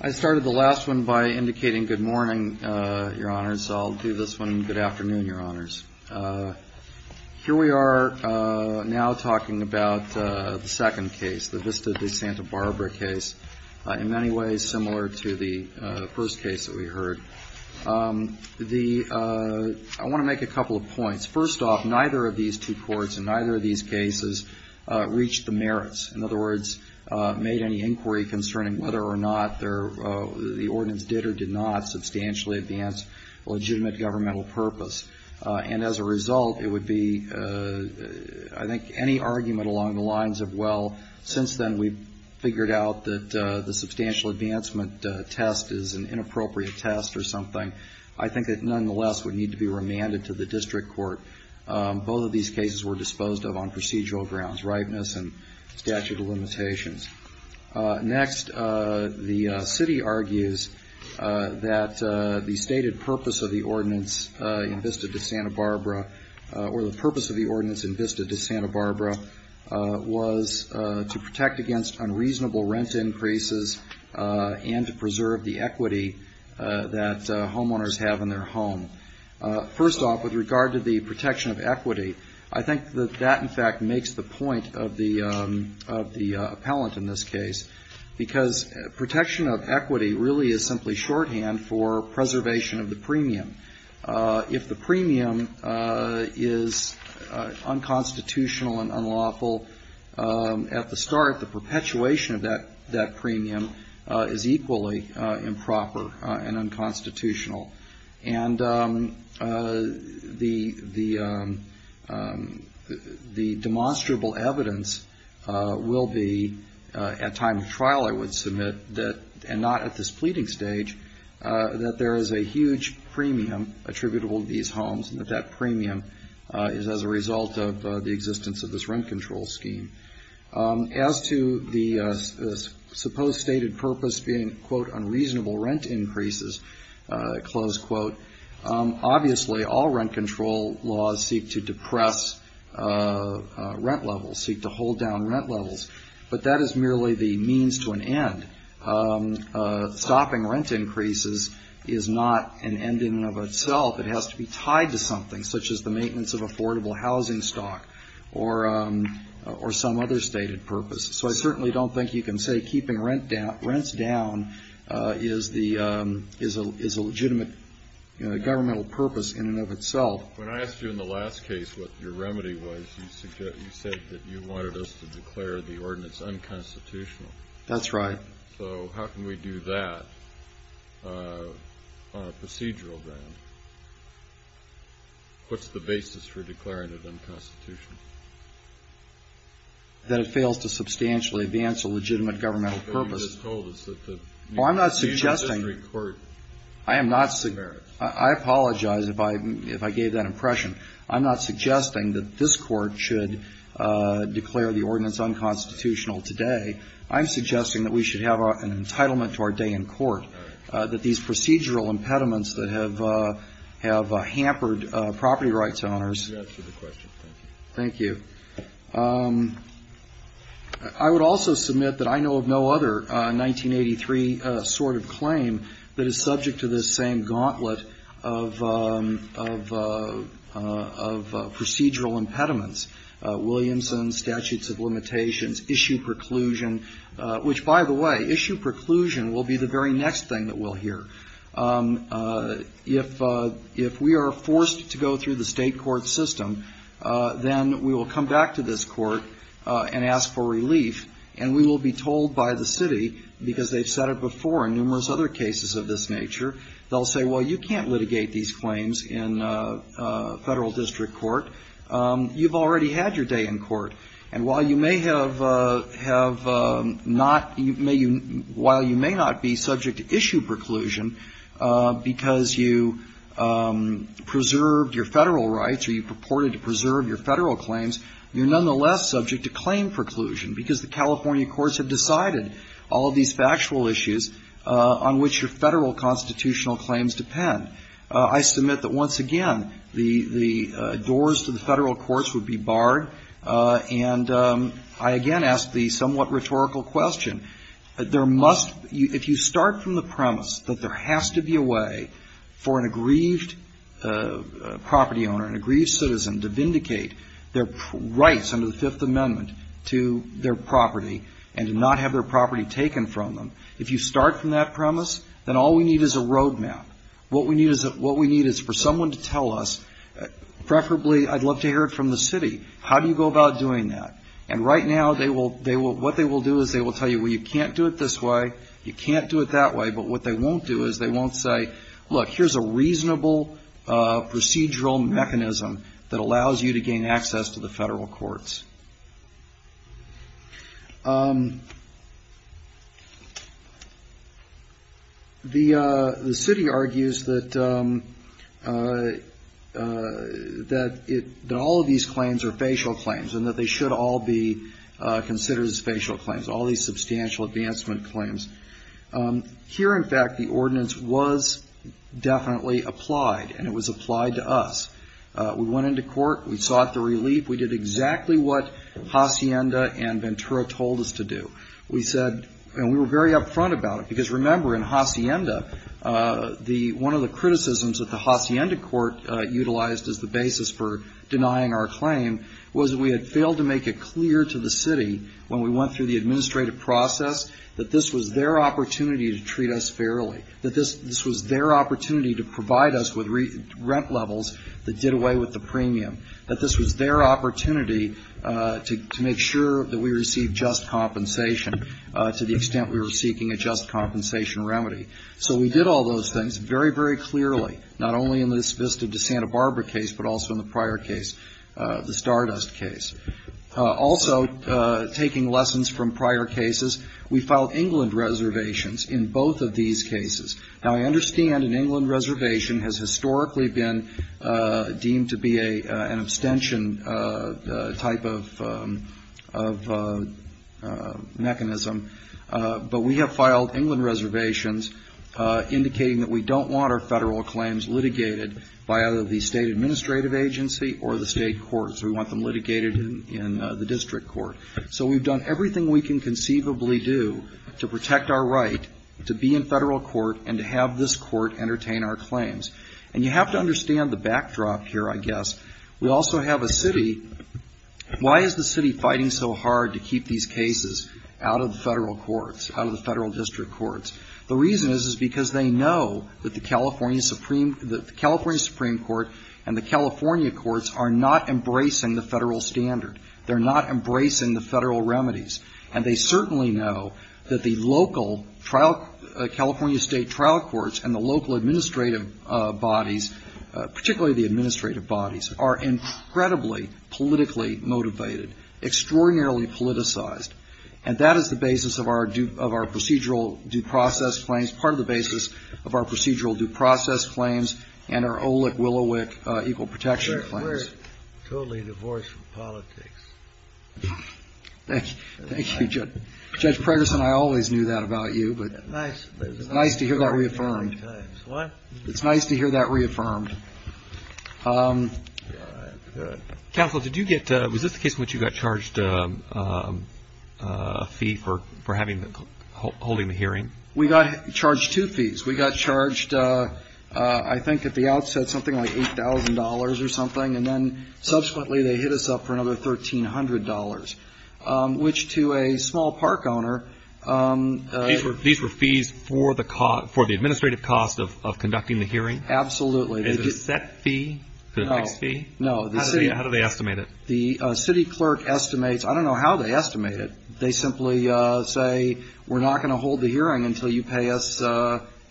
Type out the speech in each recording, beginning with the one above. I started the last one by indicating good morning, Your Honor, so I'll do this one good afternoon, Your Honors. Here we are now talking about the second case, the Vista De Santa Barbara case, in many ways similar to the first case that we heard. I want to make a couple of points. First off, neither of these two courts and neither of these cases reached the merits. In other words, made any inquiry concerning whether or not the ordinance did or did not substantially advance legitimate governmental purpose. And as a result, it would be, I think, any argument along the lines of, well, since then we've figured out that the substantial advancement test is an inappropriate test or something, I think it nonetheless would need to be remanded to the district court. Both of these cases were disposed of on procedural grounds, rightness and statute of limitations. Next, the city argues that the stated purpose of the ordinance in Vista De Santa Barbara, or the purpose of the ordinance in Vista De Santa Barbara, was to protect against unreasonable rent increases and to preserve the equity that homeowners have in their home. First off, with regard to the protection of equity, I think that that, in fact, makes the point of the appellant in this case, because protection of equity really is simply shorthand for preservation of the premium. If the premium is unconstitutional and unlawful, at the start, the perpetuation of that premium is equally improper and unconstitutional. And the demonstrable evidence will be at time of trial, I would submit, and not at this pleading stage, that there is a huge premium attributable to these homes and that that premium is as a result of the existence of this rent control scheme. As to the supposed stated purpose being, quote, unreasonable rent increases, close quote, obviously all rent control laws seek to depress rent levels, seek to hold down rent levels. But that is merely the means to an end. Stopping rent increases is not an ending of itself. It has to be tied to something, such as the maintenance of affordable housing stock or some other stated purpose. So I certainly don't think you can say keeping rents down is a legitimate governmental purpose in and of itself. When I asked you in the last case what your remedy was, you said that you wanted us to declare the ordinance unconstitutional. That's right. So how can we do that on a procedural ground? What's the basis for declaring it unconstitutional? That it fails to substantially advance a legitimate governmental purpose. What you just told us is that the procedural history court should declare it. I apologize if I gave that impression. I'm not suggesting that this Court should declare the ordinance unconstitutional today. I'm suggesting that we should have an entitlement to our day in court. All right. That these procedural impediments that have hampered property rights owners. You answered the question. Thank you. Thank you. I would also submit that I know of no other 1983 sort of claim that is subject to this same gauntlet of procedural impediments. Williamson, statutes of limitations, issue preclusion. Which, by the way, issue preclusion will be the very next thing that we'll hear. If we are forced to go through the state court system, then we will come back to this court and ask for relief. And we will be told by the city, because they've said it before in numerous other cases of this nature. They'll say, well, you can't litigate these claims in federal district court. You've already had your day in court. And while you may have not, while you may not be subject to issue preclusion because you preserved your federal rights or you purported to preserve your federal claims, you're nonetheless subject to claim preclusion because the California courts have decided all of these factual issues on which your federal constitutional claims depend. I submit that, once again, the doors to the federal courts would be barred. And I again ask the somewhat rhetorical question. There must be, if you start from the premise that there has to be a way for an aggrieved property owner, an aggrieved citizen to vindicate their rights under the Fifth Amendment to their property and to not have their property taken from them, if you start from that premise, then all we need is a roadmap. What we need is for someone to tell us, preferably I'd love to hear it from the city, how do you go about doing that? And right now, what they will do is they will tell you, well, you can't do it this way, you can't do it that way. But what they won't do is they won't say, look, here's a reasonable procedural mechanism that allows you to gain access to the federal courts. The city argues that all of these claims are facial claims and that they should all be considered as facial claims, all these substantial advancement claims. Here, in fact, the ordinance was definitely applied, and it was applied to us. We went into court. We sought the relief. We did exactly what Hacienda and Ventura told us to do. We said, and we were very upfront about it, because remember, in Hacienda, the one of the criticisms that the Hacienda court utilized as the basis for denying our claim was that we had failed to make it clear to the city when we went through the administrative process that this was their opportunity to treat us fairly, that this was their opportunity to provide us with rent levels that did away with the premium, that this was their opportunity to make sure that we received just compensation, to the extent we were seeking a just compensation remedy. So we did all those things very, very clearly, not only in this Vista de Santa Barbara case, but also in the prior case, the Stardust case. Also, taking lessons from prior cases, we filed England reservations in both of these cases. Now, I understand an England reservation has historically been deemed to be an abstention type of mechanism, but we have filed England reservations indicating that we don't want our Federal claims litigated by either the State administrative agency or the State courts. We want them litigated in the district court. So we've done everything we can conceivably do to protect our right to be in Federal court and to have this court entertain our claims. And you have to understand the backdrop here, I guess. We also have a city. Why is the city fighting so hard to keep these cases out of the Federal courts, out of the Federal district courts? The reason is, is because they know that the California Supreme Court and the California courts are not embracing the Federal standard. They're not embracing the Federal remedies. And they certainly know that the local trial, California State trial courts and the local administrative bodies, particularly the administrative bodies, are incredibly politically motivated, extraordinarily politicized. And that is the basis of our procedural due process claims, part of the basis of our procedural due process claims, and our OLEC-WILLOWIC equal protection claims. We're totally divorced from politics. Thank you, Judge. Judge Pregerson, I always knew that about you, but it's nice to hear that reaffirmed. It's nice to hear that reaffirmed. Counsel, was this the case in which you got charged a fee for holding the hearing? We got charged two fees. We got charged, I think at the outset, something like $8,000 or something, and then subsequently they hit us up for another $1,300, which to a small park owner... These were fees for the administrative cost of conducting the hearing? Absolutely. Is it a set fee? Is it an X fee? How do they estimate it? The city clerk estimates... I don't know how they estimate it. They simply say, we're not going to hold the hearing until you pay us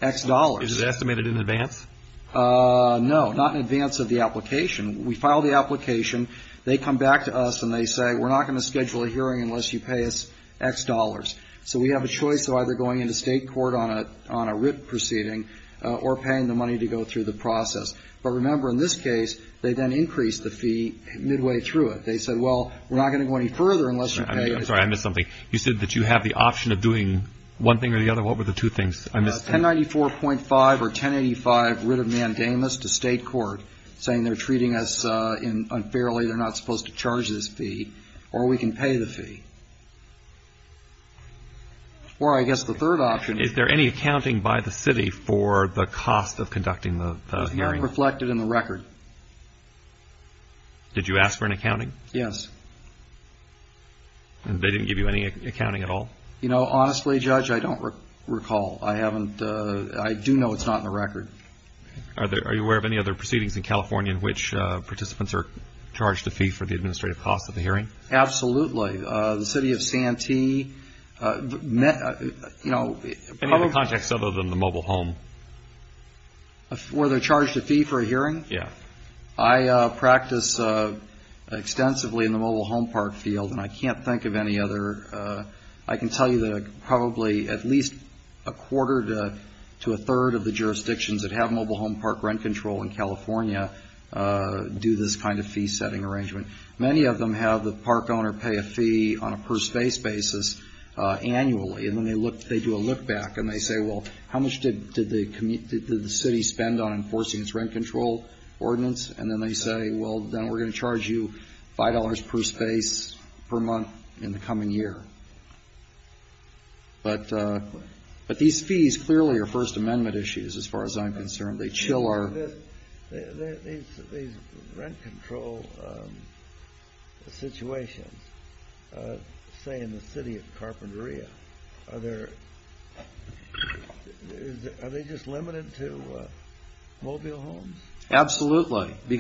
X dollars. Is it estimated in advance? No, not in advance of the application. We file the application. They come back to us and they say, we're not going to schedule a hearing unless you pay us X dollars. So we have a choice of either going into state court on a writ proceeding or paying the money to go through the process. But remember, in this case, they then increased the fee midway through it. They said, well, we're not going to go any further unless you pay us X dollars. I'm sorry, I missed something. You said that you have the option of doing one thing or the other? What were the two things I missed? $1094.5 or $1085 writ of mandamus to state court saying they're treating us unfairly, they're not supposed to charge this fee, or we can pay the fee. Or I guess the third option... Is there any accounting by the city for the cost of conducting the hearing? It's not reflected in the record. Did you ask for an accounting? Yes. And they didn't give you any accounting at all? Honestly, Judge, I don't recall. I do know it's not in the record. Are you aware of any other proceedings in California in which participants are charged a fee for the administrative cost of the hearing? Absolutely. The city of Santee... Any other projects other than the mobile home? I practice extensively in the mobile home park field, and I can't think of any other... I can tell you that probably at least a quarter to a third of the jurisdictions that have mobile home park rent control in California do this kind of fee-setting arrangement. Many of them have the park owner pay a fee on a per space basis annually, and then they do a look-back, and they say, well, how much did the city spend on enforcing its rent control? Ordinance, and then they say, well, then we're going to charge you $5 per space per month in the coming year. But these fees clearly are First Amendment issues, as far as I'm concerned. These rent control situations, say, in the city of Carpinteria, are they just limited to mobile homes? They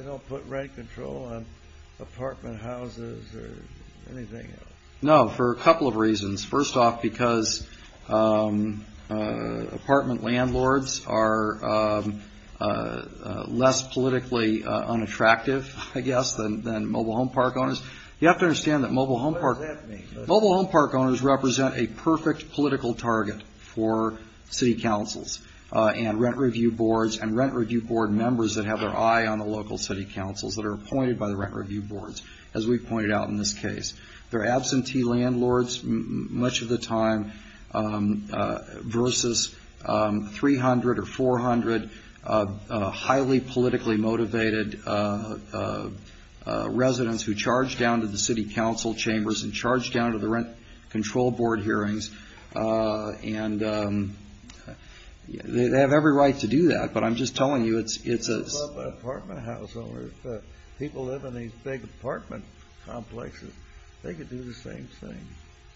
don't put rent control on apartment houses or anything else? No, for a couple of reasons. First off, because apartment landlords are less politically unattractive, I guess, than mobile home park owners. What does that mean? Mobile home park owners represent a perfect political target for city councils and rent review boards and rent review board members that have their eye on the local city councils that are appointed by the rent review boards, as we've pointed out in this case. They're absentee landlords much of the time versus 300 or 400 highly politically motivated residents who charge down to the city council chambers and charge down to the city council chambers and charge down to the city council chambers. They charge down to the rent control board hearings, and they have every right to do that. But I'm just telling you, it's a...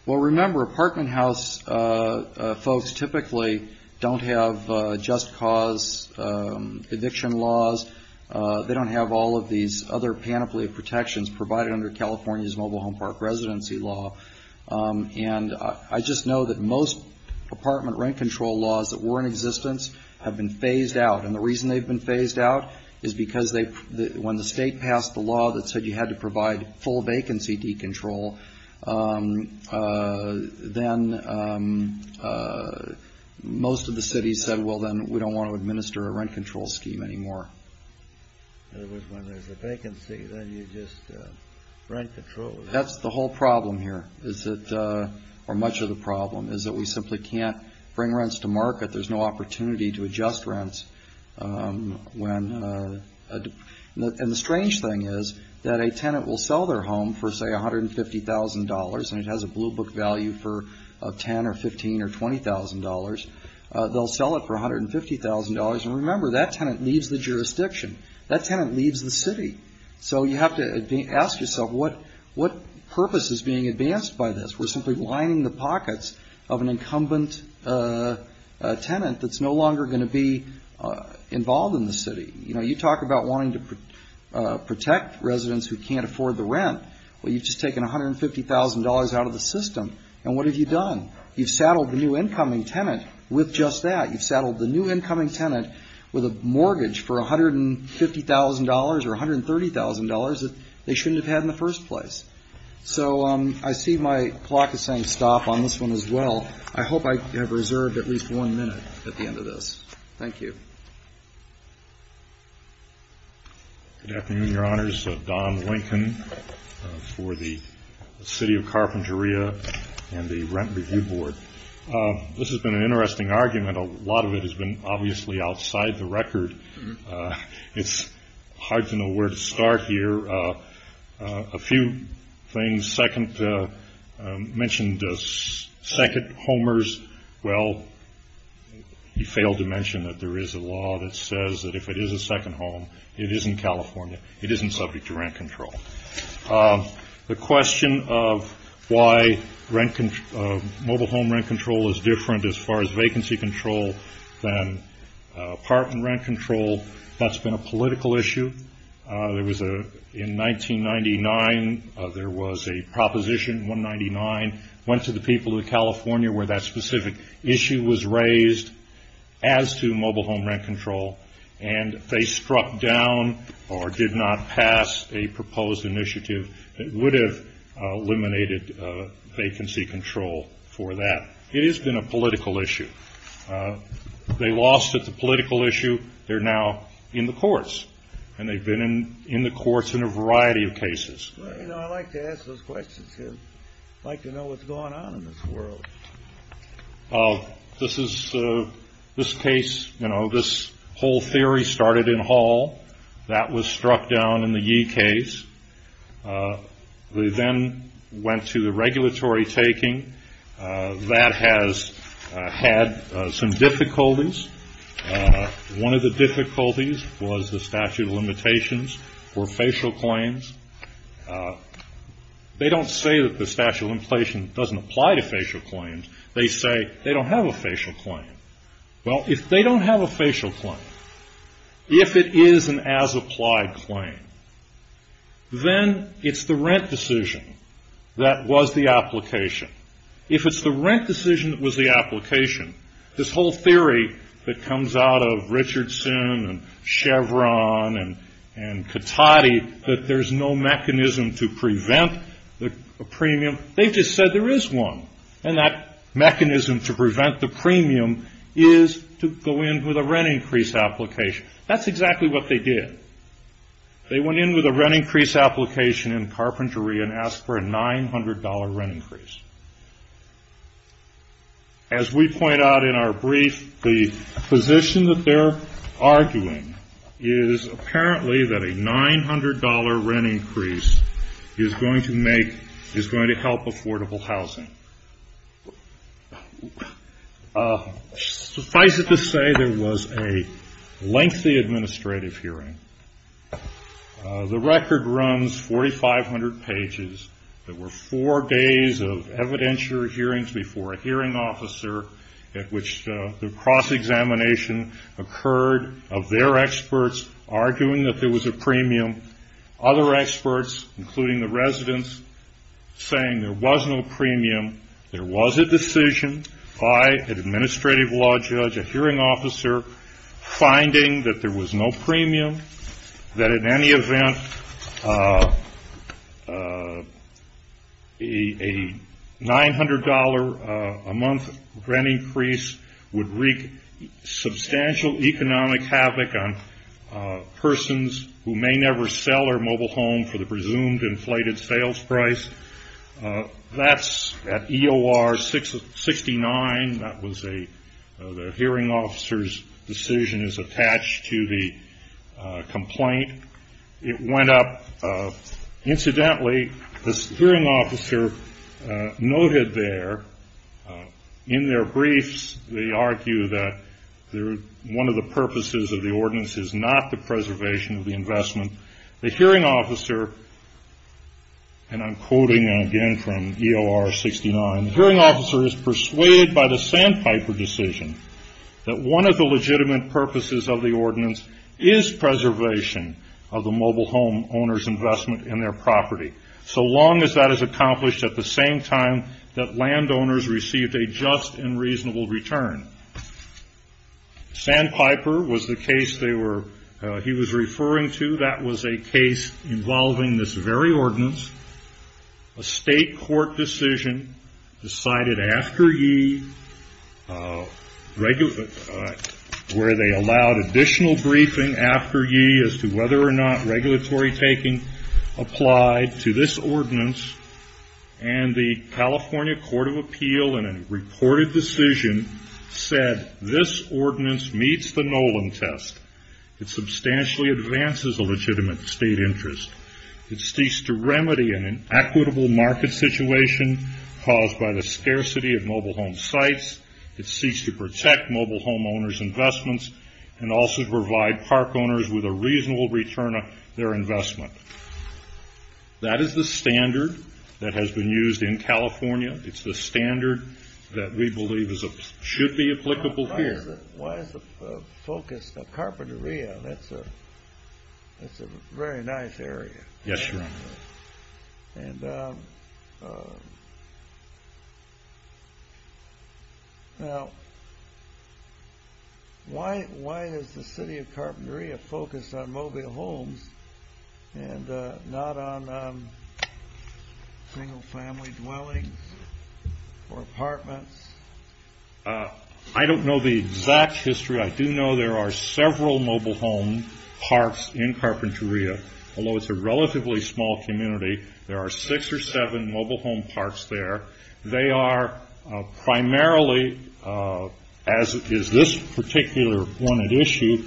Well, remember, apartment house folks typically don't have just cause eviction laws. They don't have all of these other panoply of protections provided under California's mobile home park residency law. And I just know that most apartment rent control laws that were in existence have been phased out. And the reason they've been phased out is because when the state passed the law that said you had to provide full vacancy decontrol, then most of the cities said, well, then we don't want to administer a rent control scheme anymore. In other words, when there's a vacancy, then you just rent control. That's the whole problem here, or much of the problem, is that we simply can't bring rents to market. There's no opportunity to adjust rents. And the strange thing is that a tenant will sell their home for, say, $150,000, and it has a blue book value for $10,000 or $15,000 or $20,000. They'll sell it for $150,000, and remember, that tenant leaves the jurisdiction. That tenant leaves the city. So you have to ask yourself, what purpose is being advanced by this? We're simply lining the pockets of an incumbent tenant that's no longer going to be involved in the city. You talk about wanting to protect residents who can't afford the rent. Well, you've just taken $150,000 out of the system, and what have you done? You've saddled the new incoming tenant with just that. You've saddled the new incoming tenant with a mortgage for $150,000 or $130,000 that they shouldn't have had in the first place. So I see my clock is saying stop on this one as well. I hope I have reserved at least one minute at the end of this. Thank you. Good afternoon, Your Honors. Don Lincoln for the City of Carpentria and the Rent Review Board. This has been an interesting argument. A lot of it has been obviously outside the record. It's hard to know where to start here. A few things mentioned second homers. Well, you failed to mention that there is a law that says that if it is a second home, it isn't California. It isn't subject to rent control. The question of why mobile home rent control is different as far as vacancy control than apartment rent control, that's been a political issue. In 1999, there was a proposition, 199, went to the people of California where that specific issue was raised as to mobile home rent control, and they struck down or did not pass a proposed initiative that would have eliminated vacancy control for that. It has been a political issue. They lost at the political issue. They're now in the courts, and they've been in the courts in a variety of cases. I'd like to know what's going on in this world. This whole theory started in Hall. That was struck down in the Yee case. They then went to the regulatory taking. That has had some difficulties. One of the difficulties was the statute of limitations for facial claims. They don't say that the statute of limitations doesn't apply to facial claims. They say they don't have a facial claim. Well, if they don't have a facial claim, if it is an as-applied claim, then it's the rent decision that was the application. If it's the rent decision that was the application, this whole theory that comes out of Richardson and Chevron and Cotati, that there's no mechanism to prevent a premium, they just said there is one. And that mechanism to prevent the premium is to go in with a rent increase application. That's exactly what they did. They went in with a rent increase application in carpentry and asked for a $900 rent increase. As we point out in our brief, the position that they're arguing is apparently that a $900 rent increase is going to help affordable housing. Suffice it to say, there was a lengthy administrative hearing. The record runs 4,500 pages. There were four days of evidentiary hearings before a hearing officer at which the cross-examination occurred of their experts arguing that there was a premium. Other experts, including the residents, saying there was no premium. There was a decision by an administrative law judge, a hearing officer, finding that there was no premium. That in any event, a $900 a month rent increase would wreak substantial economic havoc on persons who may never sell their mobile home for the presumed inflated sales price. That's at EOR 69. The hearing officer's decision is attached to the complaint. It went up. Incidentally, the hearing officer noted there in their briefs, they argue that one of the purposes of the ordinance is not the preservation of the investment. The hearing officer, and I'm quoting again from EOR 69, the hearing officer is persuaded by the Sandpiper decision that one of the legitimate purposes of the ordinance is preservation of the mobile home owner's investment in their property. So long as that is accomplished at the same time that landowners received a just and reasonable return. Sandpiper was the case he was referring to. That was a case involving this very ordinance. A state court decision decided after ye, where they allowed additional briefing after ye as to whether or not regulatory taking applied to this ordinance. The California Court of Appeal in a reported decision said this ordinance meets the Nolan test. It substantially advances a legitimate state interest. It seeks to remedy an inequitable market situation caused by the scarcity of mobile home sites. It seeks to protect mobile home owners' investments and also provide park owners with a reasonable return on their investment. That is the standard that has been used in California. It's the standard that we believe should be applicable here. Why is the focus of carpentry, that's a very nice area. Yes sir. Why is the city of Carpentaria focused on mobile homes and not on single family dwellings or apartments? I don't know the exact history. I do know there are several mobile home parks in Carpentaria. Although it's a relatively small community, there are six or seven mobile home parks there. They are primarily, as is this particular one at issue,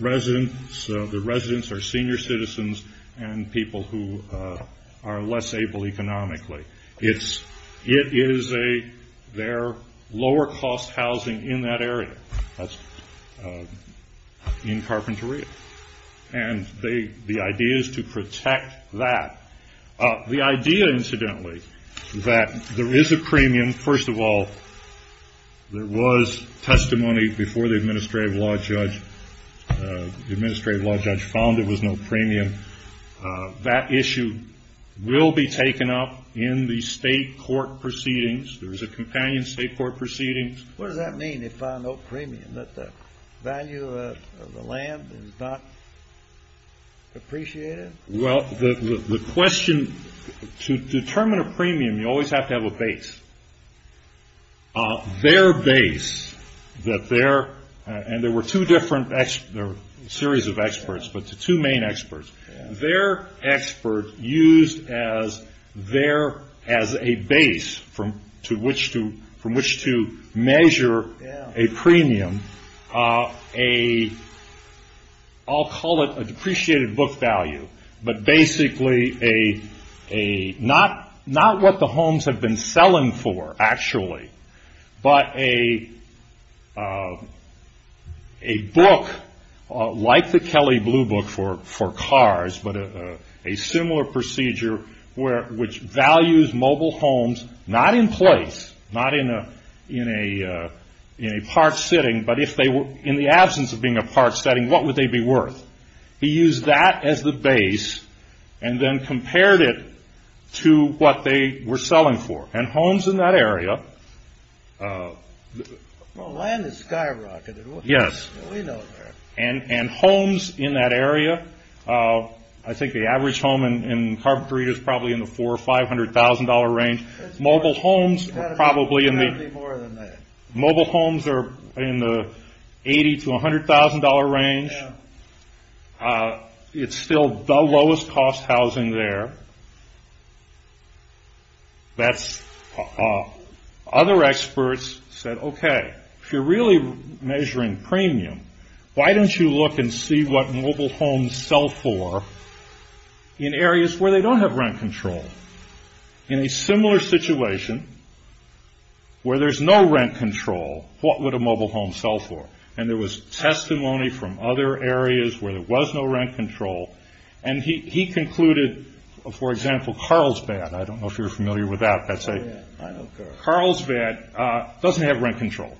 residents. The residents are senior citizens and people who are less able economically. It is their lower cost housing in that area. The idea is to protect that. The idea, incidentally, that there is a premium. First of all, there was testimony before the administrative law judge. The administrative law judge found there was no premium. That issue will be taken up in the state court proceedings. There is a companion state court proceeding. To determine a premium, you always have to have a base. There were two different series of experts, but the two main experts. Their expert used as a base from which to measure a premium. I'll call it a depreciated book value, but basically not what the homes have been selling for, actually, but a book like the Kelly Blue Book for cars, but a similar procedure which values mobile homes, not in place, not in a park setting, but in the absence of being a park setting, what would they be worth? He used that as the base and then compared it to what they were selling for. Homes in that area... I think the average home in Carpentry is probably in the $400,000 or $500,000 range. Mobile homes are probably in the... $80,000 to $100,000 range. It's still the lowest cost housing there. Other experts said, if you're really measuring premium, why don't you look and see what mobile homes sell for in areas where they don't have rent control? In a similar situation where there's no rent control, what would a mobile home sell for? There was testimony from other areas where there was no rent control. He concluded, for example, Carlsbad. I don't know if you're familiar with that. Carlsbad doesn't have rent control.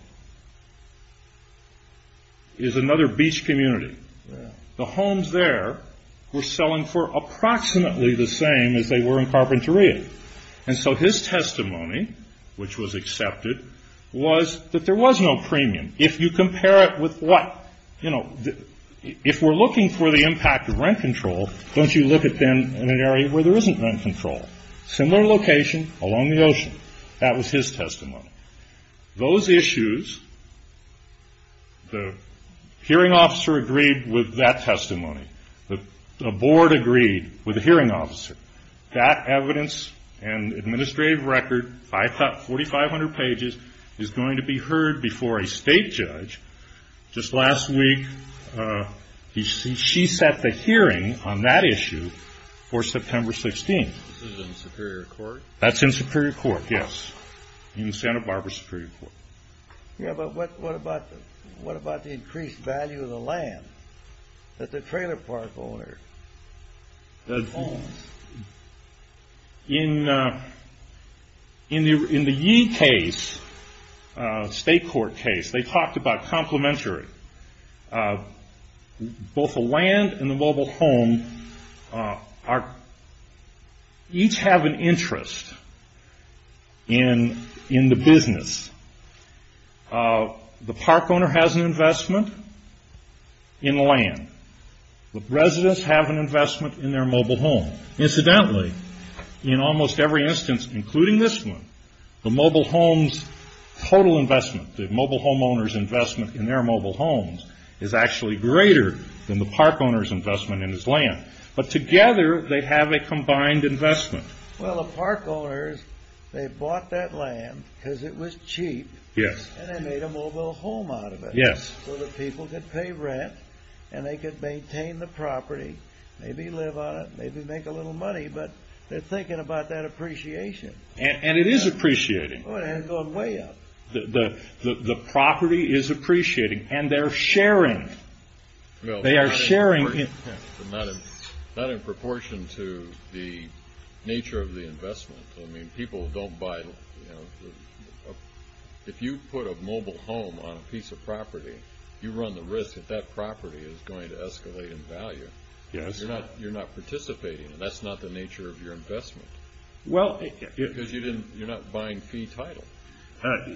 It's another beach community. The homes there were selling for approximately the same as they were in Carpentaria. His testimony, which was accepted, was that there was no premium. If you compare it with what... Don't you look at them in an area where there isn't rent control. Similar location, along the ocean. That was his testimony. Those issues, the hearing officer agreed with that testimony. The board agreed with the hearing officer. That evidence and administrative record, 4,500 pages, is going to be heard before a state judge. Just last week, she set the hearing on that issue for September 16th. That's in Superior Court, yes. In Santa Barbara Superior Court. What about the increased value of the land that the trailer park owner owns? In the Yee case, State Court case, they talked about complementary. Both the land and the mobile home each have an interest in the business. The park owner has an investment in land. The residents have an investment in their mobile home. Incidentally, in almost every instance, including this one, the mobile home's total investment, the mobile home owner's investment in their mobile homes is actually greater than the park owner's investment in his land. Together, they have a combined investment. The park owners bought that land because it was cheap and they made a mobile home out of it. So the people could pay rent and they could maintain the property, maybe live on it, maybe make a little money, but they're thinking about that appreciation. And it is appreciating. The property is appreciating and they're sharing. Not in proportion to the nature of the investment. If you put a mobile home on a piece of property, you run the risk that that property is going to escalate in value. You're not participating. That's not the nature of your investment. Because you're not buying fee title.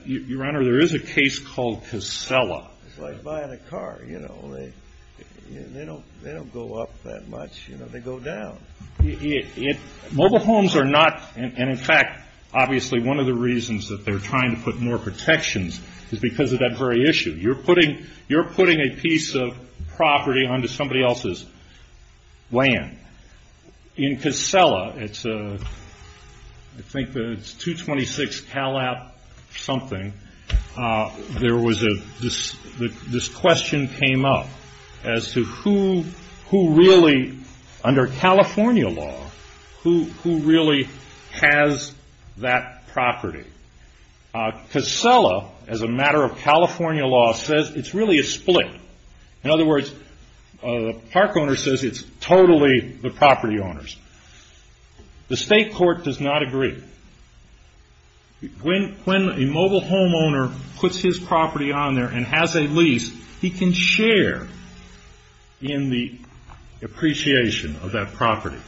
Your Honor, there is a case called Casella. It's like buying a car. They don't go up that much. They go down. One of the reasons that they're trying to put more protections is because of that very issue. You're putting a piece of property onto somebody else's land. In Casella, it's 226 something. This question came up as to who really, under California law, who really has that property. Casella, as a matter of California law, says it's really a split. In other words, the park owner says it's totally the property owners. The state court does not agree. When a mobile home owner puts his property on there and has a lease, he can share in the appreciation of that property.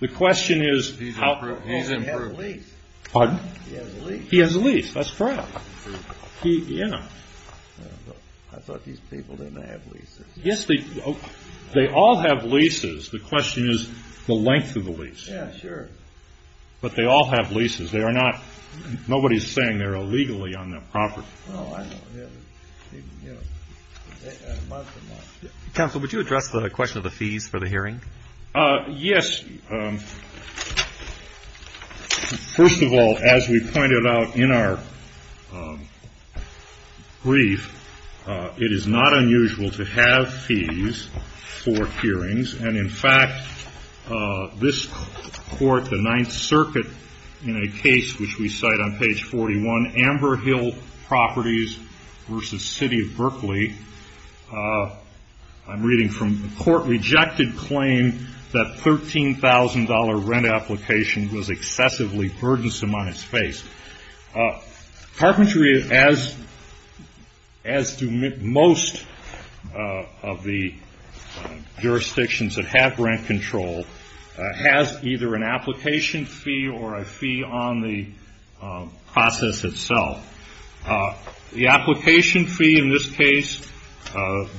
He has a lease. He has a lease. That's correct. I thought these people didn't have leases. Yes, they all have leases. The question is the length of the lease. Yeah, sure. But they all have leases. Nobody's saying they're illegally on that property. Oh, I know. Counsel, would you address the question of the fees for the hearing? Yes. First of all, as we pointed out in our brief, it is not unusual to have fees for hearings. In fact, this court, the Ninth Circuit, in a case which we cite on page 41, Amber Hill Properties v. City of Berkeley, I'm reading from the court, rejected claim that $13,000 rent application was excessively burdensome on its face. Carpentry, as most of the jurisdictions that have rent control, has either an application fee or a fee on the process itself. The application fee in this case,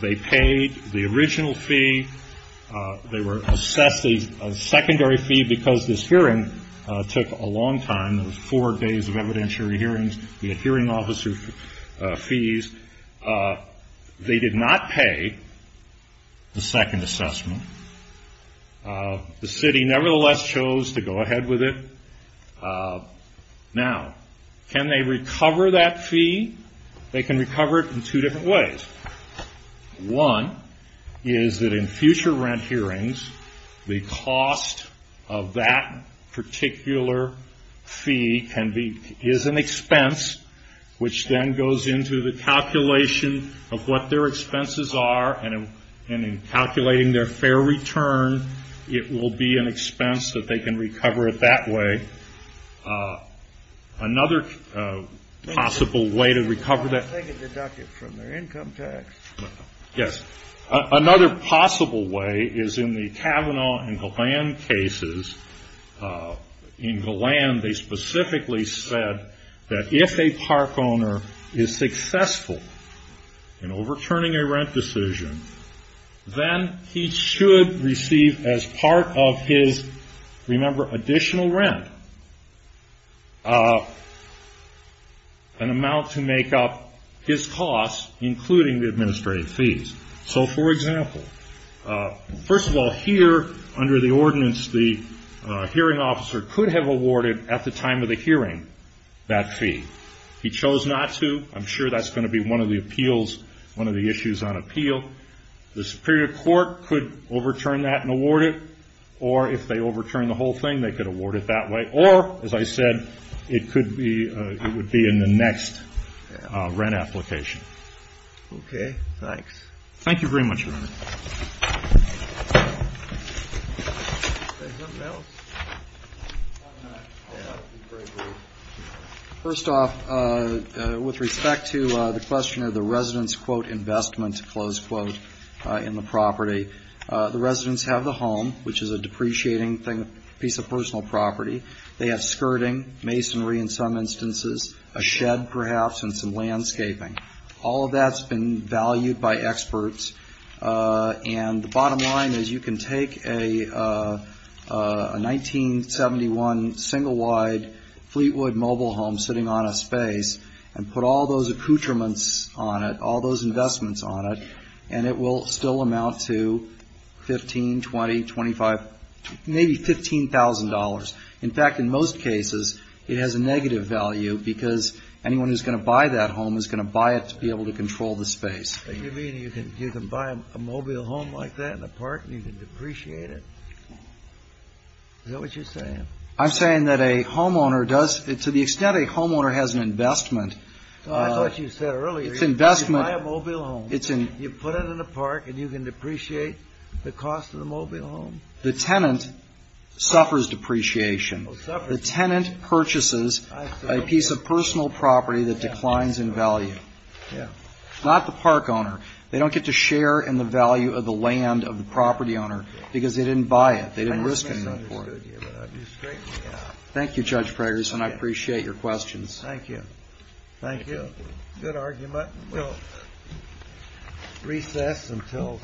they paid the original fee. They were assessed a secondary fee because this hearing took a long time. It was four days of evidentiary hearings. They had hearing officer fees. They did not pay the second assessment. The city nevertheless chose to go ahead with it. Now, can they recover that fee? They can recover it in two different ways. One is that in future rent hearings, the cost of that particular fee is an expense, which then goes into the their return. It will be an expense that they can recover it that way. Another possible way to recover that... Yes. Another possible way is in the Kavanaugh and Galan cases. In Galan, they specifically said that if a park owner is successful in overturning a rent decision, then he should receive as part of his, remember, additional rent an amount to make up his costs, including the administrative fees. For example, first of all, here under the ordinance, the hearing officer could have awarded at the time of the hearing that fee. He chose not to. I'm sure that's going to be one of the appeals, one of the issues on appeal. The superior court could overturn that and award it. Or if they overturn the whole thing, they could award it that way. Or, as I said, it would be in the next rent application. Okay. Thanks. Thank you very much. Anything else? First off, with respect to the question of the residents' quote, investment, close quote, in the property, the residents have the home, which is a depreciating piece of personal property. They have skirting, masonry in some instances, a shed perhaps, and some landscaping. All of that's been discussed. And the bottom line is you can take a 1971 single-wide Fleetwood mobile home sitting on a space and put all those accoutrements on it, all those investments on it, and it will still amount to $15,000, $20,000, $25,000, maybe $15,000. In fact, in most cases, it has a negative value because anyone who's going to buy a mobile home like that in a park and you can depreciate it. Is that what you're saying? I'm saying that a homeowner does to the extent a homeowner has an investment. I thought you said earlier you buy a mobile home, you put it in a park and you can depreciate the cost of the mobile home. The tenant suffers depreciation. The tenant purchases a piece of personal property that declines in value. Not the park owner. They don't get to share in the value of the land of the property owner because they didn't buy it. They didn't risk any money for it. Thank you, Judge Fragerson. I appreciate your questions. Thank you. Thank you. Good argument. We'll recess until called.